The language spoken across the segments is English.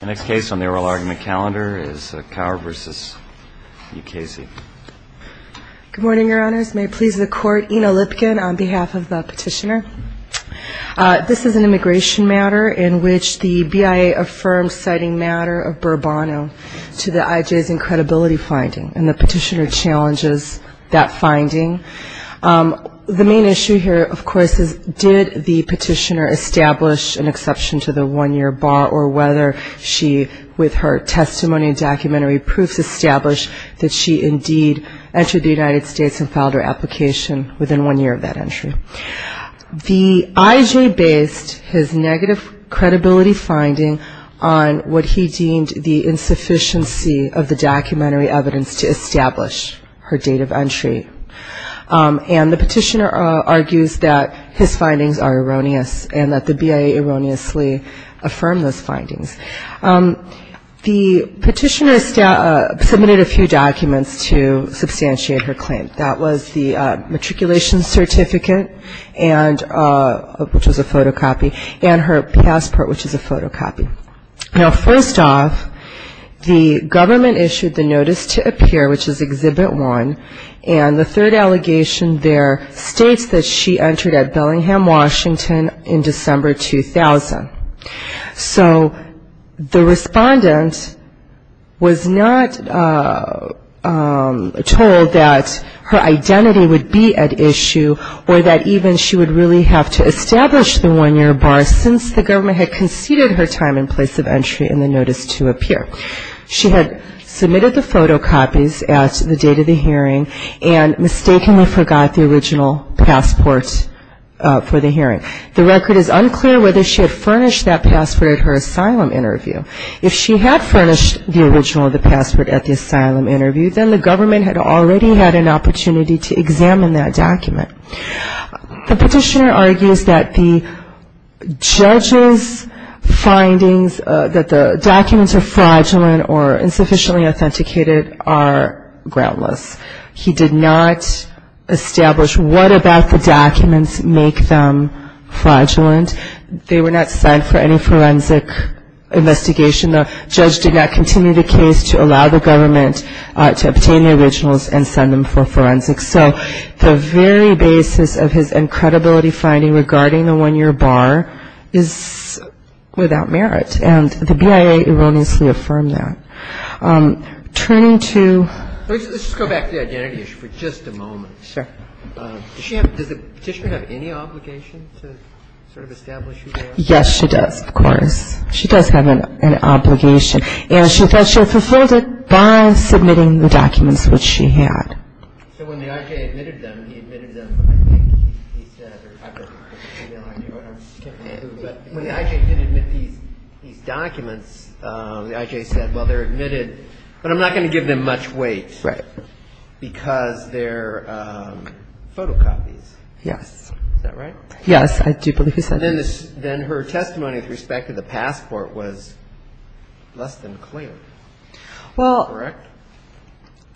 The next case on the oral argument calendar is Kaur v. E. Casey Good morning, your honors. May it please the court, Ina Lipkin on behalf of the petitioner. This is an immigration matter in which the BIA affirms citing matter of Burbano to the IJ's incredibility finding, and the petitioner challenges that finding. The main issue here, of course, is did the petitioner establish an exception to the one-year bar or whether she, with her testimony and documentary proofs, established that she indeed entered the United States and filed her application within one year of that entry. The IJ based his negative credibility finding on what he deemed the insufficiency of the documentary evidence to establish her date of entry, and the petitioner argues that his findings are erroneous and that the BIA erroneously affirmed those findings. The petitioner submitted a few documents to substantiate her claim. That was the matriculation certificate, which was a photocopy, and her passport, which is a photocopy. Now, first off, the government issued the notice to appear, which is Exhibit 1, and the third allegation there states that she entered at Bellingham, Washington, in December 2000. So the respondent was not told that her identity would be at issue or that even she would really have to establish the one-year bar since the government had conceded her time and place of entry in the notice to appear. She had submitted the photocopies at the date of the hearing and mistakenly forgot the original passport for the hearing. The record is unclear whether she had furnished that passport at her asylum interview. If she had furnished the original of the passport at the asylum interview, then the government had already had an opportunity to examine that document. The petitioner argues that the judge's findings, that the documents are fraudulent or insufficiently authenticated, are groundless. He did not establish what about the documents make them fraudulent. They were not sent for any forensic investigation. The judge did not continue the case to allow the government to obtain the originals and send them for forensic. So the very basis of his incredibility finding regarding the one-year bar is without merit. And the BIA erroneously affirmed that. Turning to ‑‑ Let's just go back to the identity issue for just a moment. Sure. Does the petitioner have any obligation to sort of establish who they are? Yes, she does, of course. She does have an obligation. And she thought she had fulfilled it by submitting the documents which she had. So when the I.J. admitted them, he admitted them, but I think he said, or I have no idea what I'm skipping through, but when the I.J. did admit these documents, the I.J. said, well, they're admitted, but I'm not going to give them much weight. Right. Because they're photocopies. Yes. Is that right? Yes, I do believe he said that. Then her testimony with respect to the passport was less than clear. Well ‑‑ Correct?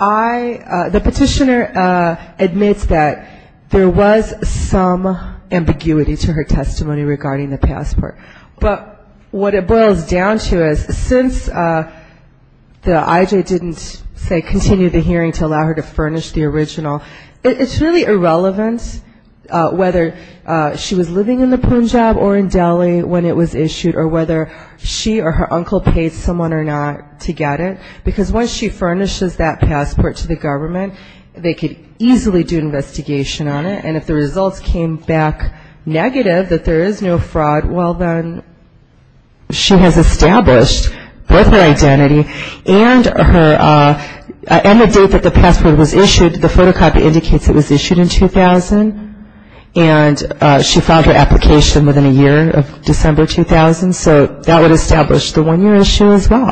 I ‑‑ the petitioner admits that there was some ambiguity to her testimony regarding the passport. But what it boils down to is since the I.J. didn't, say, continue the hearing to allow her to furnish the original, it's really irrelevant whether she was living in the Punjab or in Delhi when it was issued or whether she or her uncle paid someone or not to get it. Because once she furnishes that passport to the government, they could easily do an investigation on it. And if the results came back negative, that there is no fraud, well, then she has established both her identity and her ‑‑ and the date that the passport was issued. The photocopy indicates it was issued in 2000. And she filed her application within a year of December 2000. So that would establish the one‑year issue as well.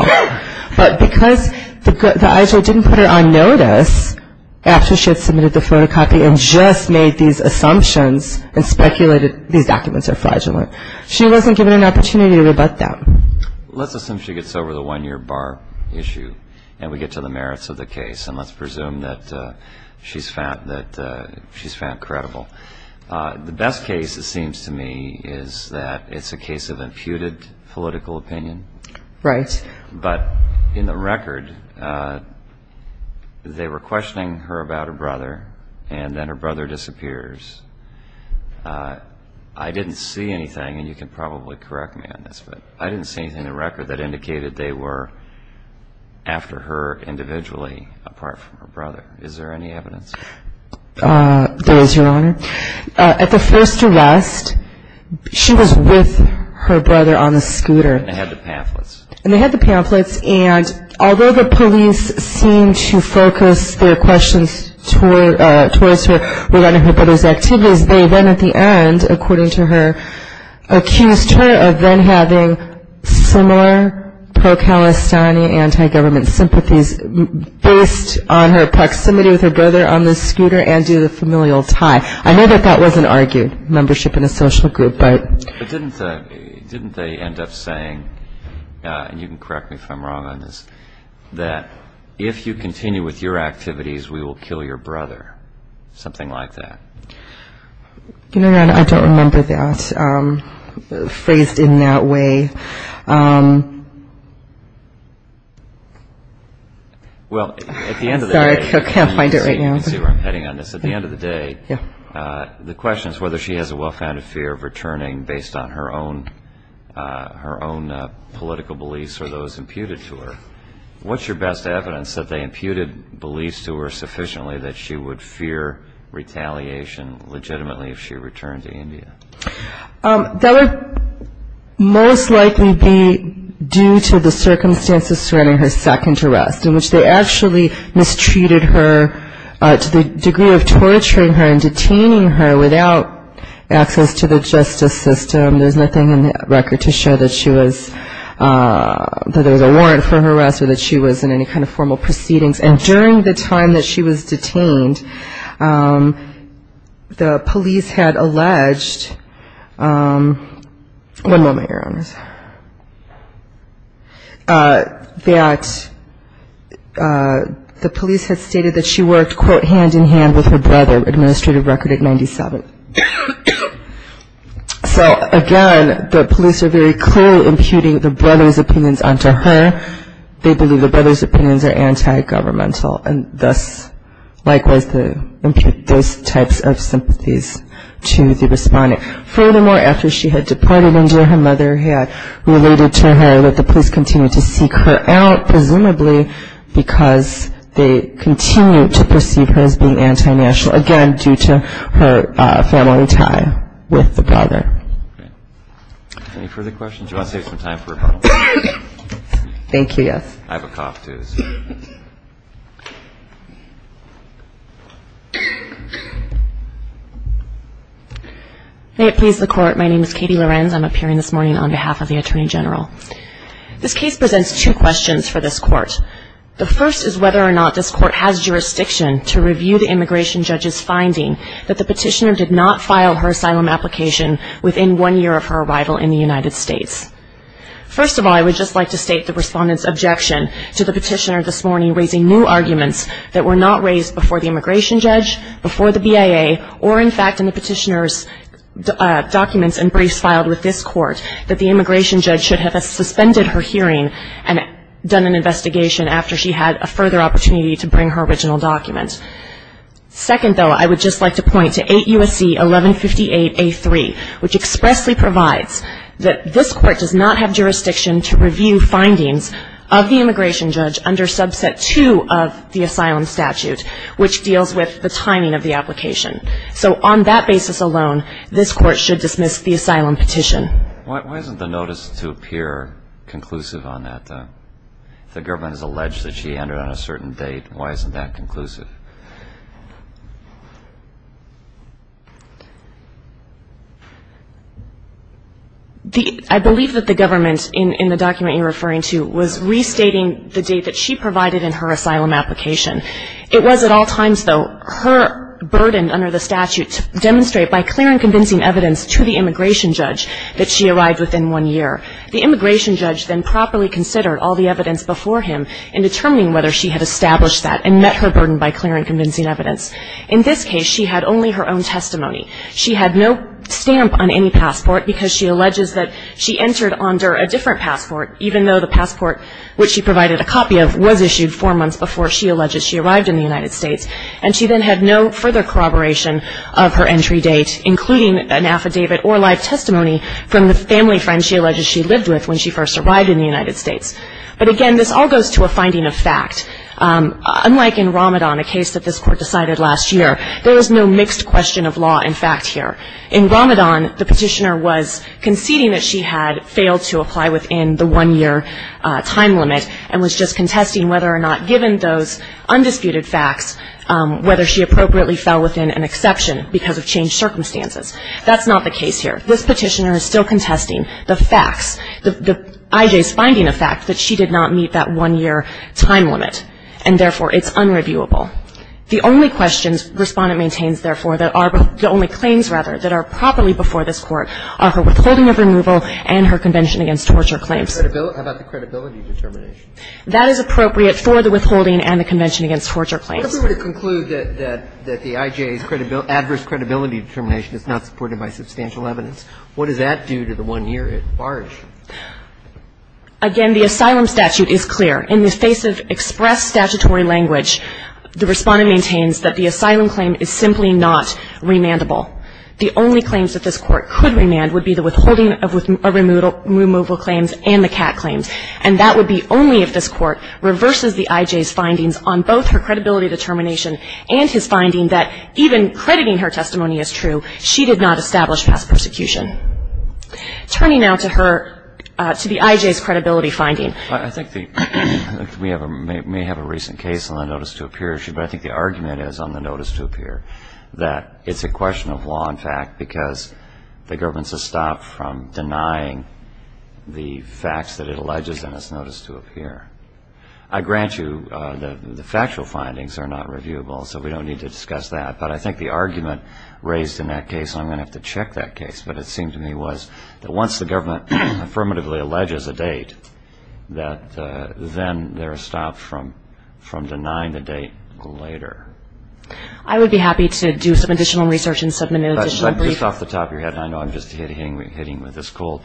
But because the I.J. didn't put her on notice after she had submitted the photocopy and just made these assumptions and speculated these documents are fraudulent, she wasn't given an opportunity to rebut them. Let's assume she gets over the one‑year bar issue and we get to the merits of the case and let's presume that she's found credible. The best case, it seems to me, is that it's a case of imputed political opinion. Right. But in the record, they were questioning her about her brother and then her brother disappears. I didn't see anything, and you can probably correct me on this, but I didn't see anything in the record that indicated they were after her individually apart from her brother. Is there any evidence? There is, Your Honor. At the first arrest, she was with her brother on the scooter. And they had the pamphlets. And they had the pamphlets, and although the police seemed to focus their questions towards her regarding her brother's activities, they then at the end, according to her, accused her of then having similar pro‑Palestinian anti‑government sympathies based on her proximity with her brother on the scooter and due to the familial tie. I know that that wasn't argued, membership in a social group. But didn't they end up saying, and you can correct me if I'm wrong on this, that if you continue with your activities, we will kill your brother, something like that? Your Honor, I don't remember that phrased in that way. Well, at the end of the day, you can see where I'm heading on this. At the end of the day, the question is whether she has a well‑founded fear of returning based on her own political beliefs or those imputed to her. What's your best evidence that they imputed beliefs to her sufficiently that she would fear retaliation legitimately if she returned to India? That would most likely be due to the circumstances surrounding her second arrest in which they actually mistreated her to the degree of torturing her and detaining her without access to the justice system. There's nothing in the record to show that there was a warrant for her arrest or that she was in any kind of formal proceedings. And during the time that she was detained, the police had alleged, one moment, Your Honor, that the police had stated that she worked, quote, hand in hand with her brother, administrative record at 97. So, again, the police are very clearly imputing the brother's opinions onto her. They believe the brother's opinions are anti‑governmental and thus, likewise, they impute those types of sympathies to the respondent. Furthermore, after she had deported India, her mother had related to her that the police continued to seek her out, presumably because they continued to perceive her as being anti‑national, again, due to her family tie with the brother. Any further questions? Do you want to take some time for rebuttal? Thank you, yes. I have a cough, too, so. May it please the Court. My name is Katie Lorenz. I'm appearing this morning on behalf of the Attorney General. This case presents two questions for this Court. The first is whether or not this Court has jurisdiction to review the immigration judge's finding that the petitioner did not file her asylum application within one year of her arrival in the United States. First of all, I would just like to state the respondent's objection to the petitioner this morning, raising new arguments that were not raised before the immigration judge, before the BIA, or, in fact, in the petitioner's documents and briefs filed with this Court, that the immigration judge should have suspended her hearing and done an investigation after she had a further opportunity to bring her original document. Second, though, I would just like to point to 8 U.S.C. 1158A3, which expressly provides that this Court does not have jurisdiction to review findings of the immigration judge under Subset 2 of the asylum statute, which deals with the timing of the application. So on that basis alone, this Court should dismiss the asylum petition. Why isn't the notice to appear conclusive on that, though? If the government has alleged that she entered on a certain date, why isn't that conclusive? I believe that the government, in the document you're referring to, was restating the date that she provided in her asylum application. It was at all times, though, her burden under the statute to demonstrate by clear and convincing evidence to the immigration judge that she arrived within one year. The immigration judge then properly considered all the evidence before him in determining whether she had established that and met her burden by clear and convincing evidence. In this case, she had only her own testimony. She had no stamp on any passport, because she alleges that she entered under a different passport, even though the passport, which she provided a copy of, was issued four months before she alleges she arrived in the United States. And she then had no further corroboration of her entry date, including an affidavit or live testimony from the family friend she alleges she lived with when she first arrived in the United States. But, again, this all goes to a finding of fact. Unlike in Ramadan, a case that this Court decided last year, there was no mixed question of law and fact here. In Ramadan, the petitioner was conceding that she had failed to apply within the one-year time limit and was just contesting whether or not, given those undisputed facts, whether she appropriately fell within an exception because of changed circumstances. That's not the case here. This petitioner is still contesting the facts, the IJ's finding of fact, that she did not meet that one-year time limit, and, therefore, it's unreviewable. The only questions Respondent maintains, therefore, that are the only claims, rather, that are properly before this Court are her withholding of removal and her convention against torture claims. How about the credibility determination? That is appropriate for the withholding and the convention against torture claims. What if we were to conclude that the IJ's adverse credibility determination is not supported by substantial evidence? What does that do to the one-year at large? Again, the asylum statute is clear. In the face of express statutory language, the Respondent maintains that the asylum claim is simply not remandable. The only claims that this Court could remand would be the withholding of removal claims and the CAT claims, and that would be only if this Court reverses the IJ's findings on both her credibility determination and his finding that even crediting her testimony is true. She did not establish past persecution. Turning now to her to the IJ's credibility finding. I think we may have a recent case on the notice-to-appear issue, but I think the argument is on the notice-to-appear that it's a question of law and fact because the government has stopped from denying the facts that it alleges in its notice-to-appear. I grant you that the factual findings are not reviewable, so we don't need to discuss that. But I think the argument raised in that case, and I'm going to have to check that case, but it seemed to me was that once the government affirmatively alleges a date, that then they're stopped from denying the date later. I would be happy to do some additional research and submit an additional brief. But just off the top of your head, and I know I'm just hitting with this coal,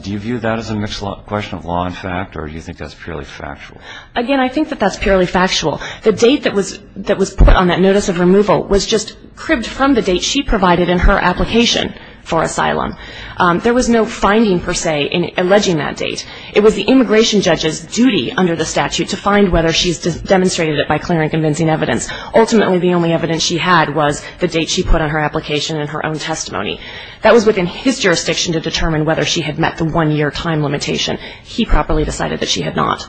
do you view that as a question of law and fact, or do you think that's purely factual? Again, I think that that's purely factual. The date that was put on that notice of removal was just cribbed from the date she provided in her application for asylum. There was no finding, per se, in alleging that date. It was the immigration judge's duty under the statute to find whether she's demonstrated it by clear and convincing evidence. Ultimately, the only evidence she had was the date she put on her application in her own testimony. That was within his jurisdiction to determine whether she had met the one-year time limitation. He properly decided that she had not.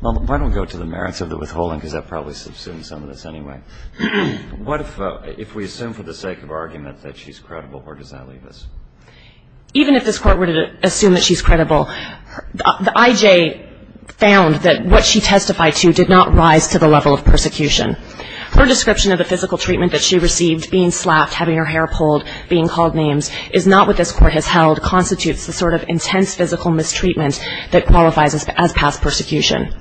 Well, why don't we go to the merits of the withholding, because that probably subsumes some of this anyway. What if we assume for the sake of argument that she's credible? Where does that leave us? Even if this Court were to assume that she's credible, the IJ found that what she testified to did not rise to the level of persecution. Her description of the physical treatment that she received, being slapped, having her hair pulled, being called names, is not what this Court has held, constitutes the sort of intense physical mistreatment that qualifies as past persecution.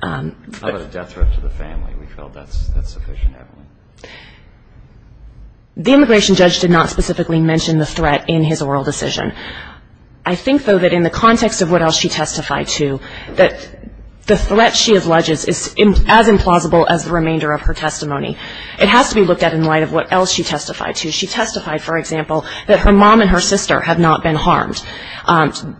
How about a death threat to the family? We felt that's sufficient evidence. The immigration judge did not specifically mention the threat in his oral decision. I think, though, that in the context of what else she testified to, that the threat she alleges is as implausible as the remainder of her testimony. It has to be looked at in light of what else she testified to. She testified, for example, that her mom and her sister had not been harmed.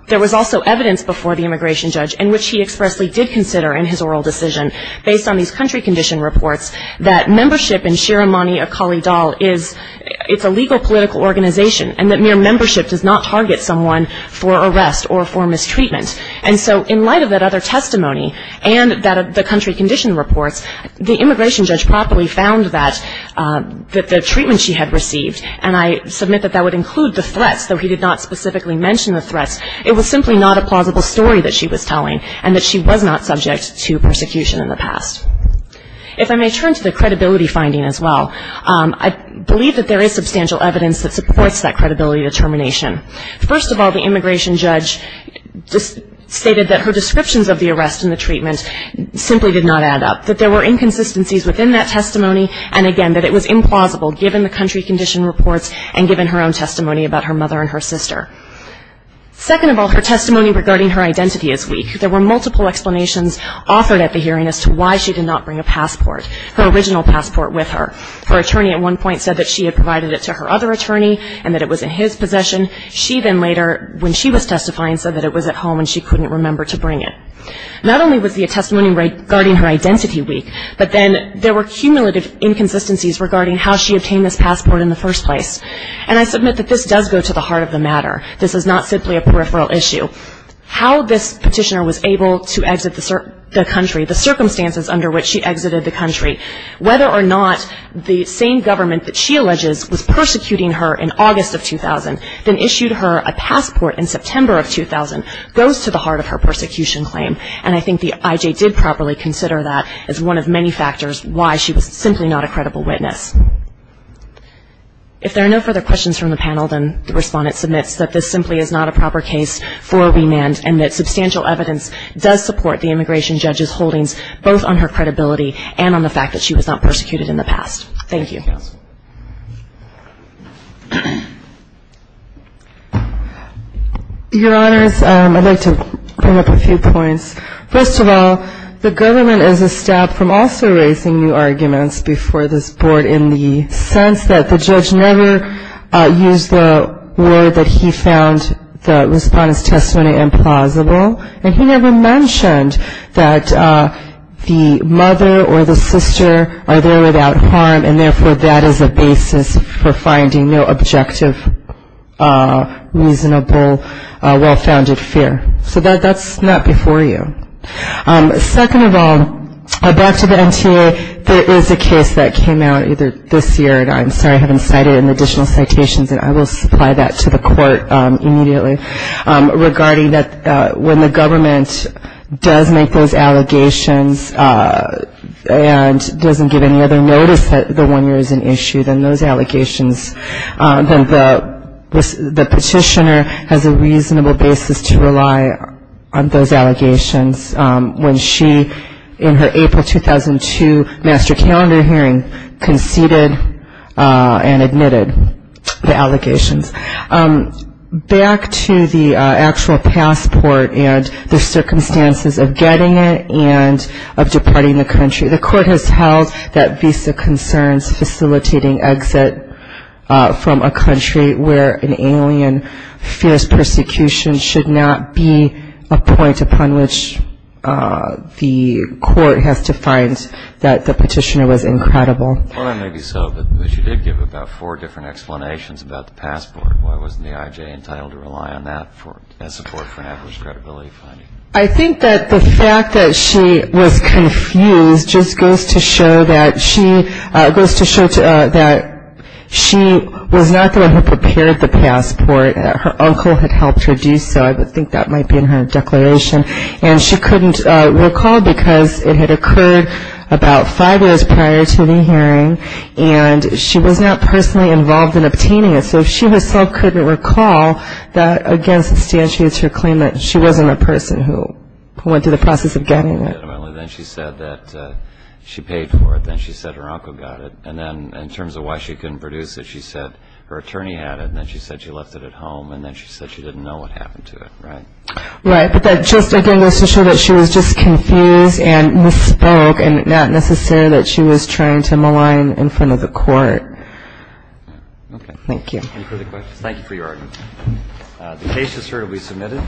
There was also evidence before the immigration judge in which he expressly did consider in his oral decision, based on these country condition reports, that membership in Shiremani Akali Dal is a legal political organization, and that mere membership does not target someone for arrest or for mistreatment. And so in light of that other testimony and the country condition reports, the immigration judge properly found that the treatment she had received, and I submit that that would include the threats, though he did not specifically mention the threats, it was simply not a plausible story that she was telling, and that she was not subject to persecution in the past. If I may turn to the credibility finding as well, I believe that there is substantial evidence that supports that credibility determination. First of all, the immigration judge stated that her descriptions of the arrest and the and again, that it was implausible given the country condition reports and given her own testimony about her mother and her sister. Second of all, her testimony regarding her identity is weak. There were multiple explanations offered at the hearing as to why she did not bring a passport, her original passport with her. Her attorney at one point said that she had provided it to her other attorney and that it was in his possession. She then later, when she was testifying, said that it was at home and she couldn't remember to bring it. Not only was the testimony regarding her identity weak, but then there were cumulative inconsistencies regarding how she obtained this passport in the first place. And I submit that this does go to the heart of the matter. This is not simply a peripheral issue. How this petitioner was able to exit the country, the circumstances under which she exited the country, whether or not the same government that she alleges was persecuting her in August of 2000, then issued her a passport in September of 2000, goes to the heart of her persecution claim. And I think the IJ did properly consider that as one of many factors why she was simply not a credible witness. If there are no further questions from the panel, then the respondent submits that this simply is not a proper case for remand and that substantial evidence does support the immigration judge's holdings both on her credibility and on the fact that she was not persecuted in the past. Thank you. Thank you, counsel. Your Honors, I'd like to bring up a few points. First of all, the government is a step from also raising new arguments before this board in the sense that the judge never used the word that he found the respondent's testimony implausible, and he never mentioned that the mother or the sister are there without harm and therefore that is a basis for finding no objective, reasonable, well-founded fear. So that's not before you. Second of all, back to the NTA, there is a case that came out either this year, and I'm sorry I haven't cited it in the additional citations, and I will supply that to the court immediately, regarding that when the government does make those allegations and doesn't give any other notice that the one year is an issue, then the petitioner has a reasonable basis to rely on those allegations when she, in her April 2002 master calendar hearing, conceded and admitted the allegations. Back to the actual passport and the circumstances of getting it and of departing the country, the court has held that visa concerns facilitating exit from a country where an alien fierce persecution should not be a point upon which the court has to find that the petitioner was incredible. Well, that may be so, but she did give about four different explanations about the passport. Why wasn't the IJ entitled to rely on that as support for adverse credibility finding? I think that the fact that she was confused just goes to show that she was not the one who prepared the passport. Her uncle had helped her do so. I think that might be in her declaration. And she couldn't recall because it had occurred about five years prior to the hearing, and she was not personally involved in obtaining it. So she herself couldn't recall that, again, substantiates her claim that she wasn't a person who went through the process of getting it. Then she said that she paid for it. Then she said her uncle got it. And then in terms of why she couldn't produce it, she said her attorney had it. And then she said she left it at home. And then she said she didn't know what happened to it, right? Right. But that just, again, goes to show that she was just confused and misspoke and not necessarily that she was trying to malign in front of the court. Okay. Thank you. Any further questions? Thank you for your argument. The case is certainly submitted.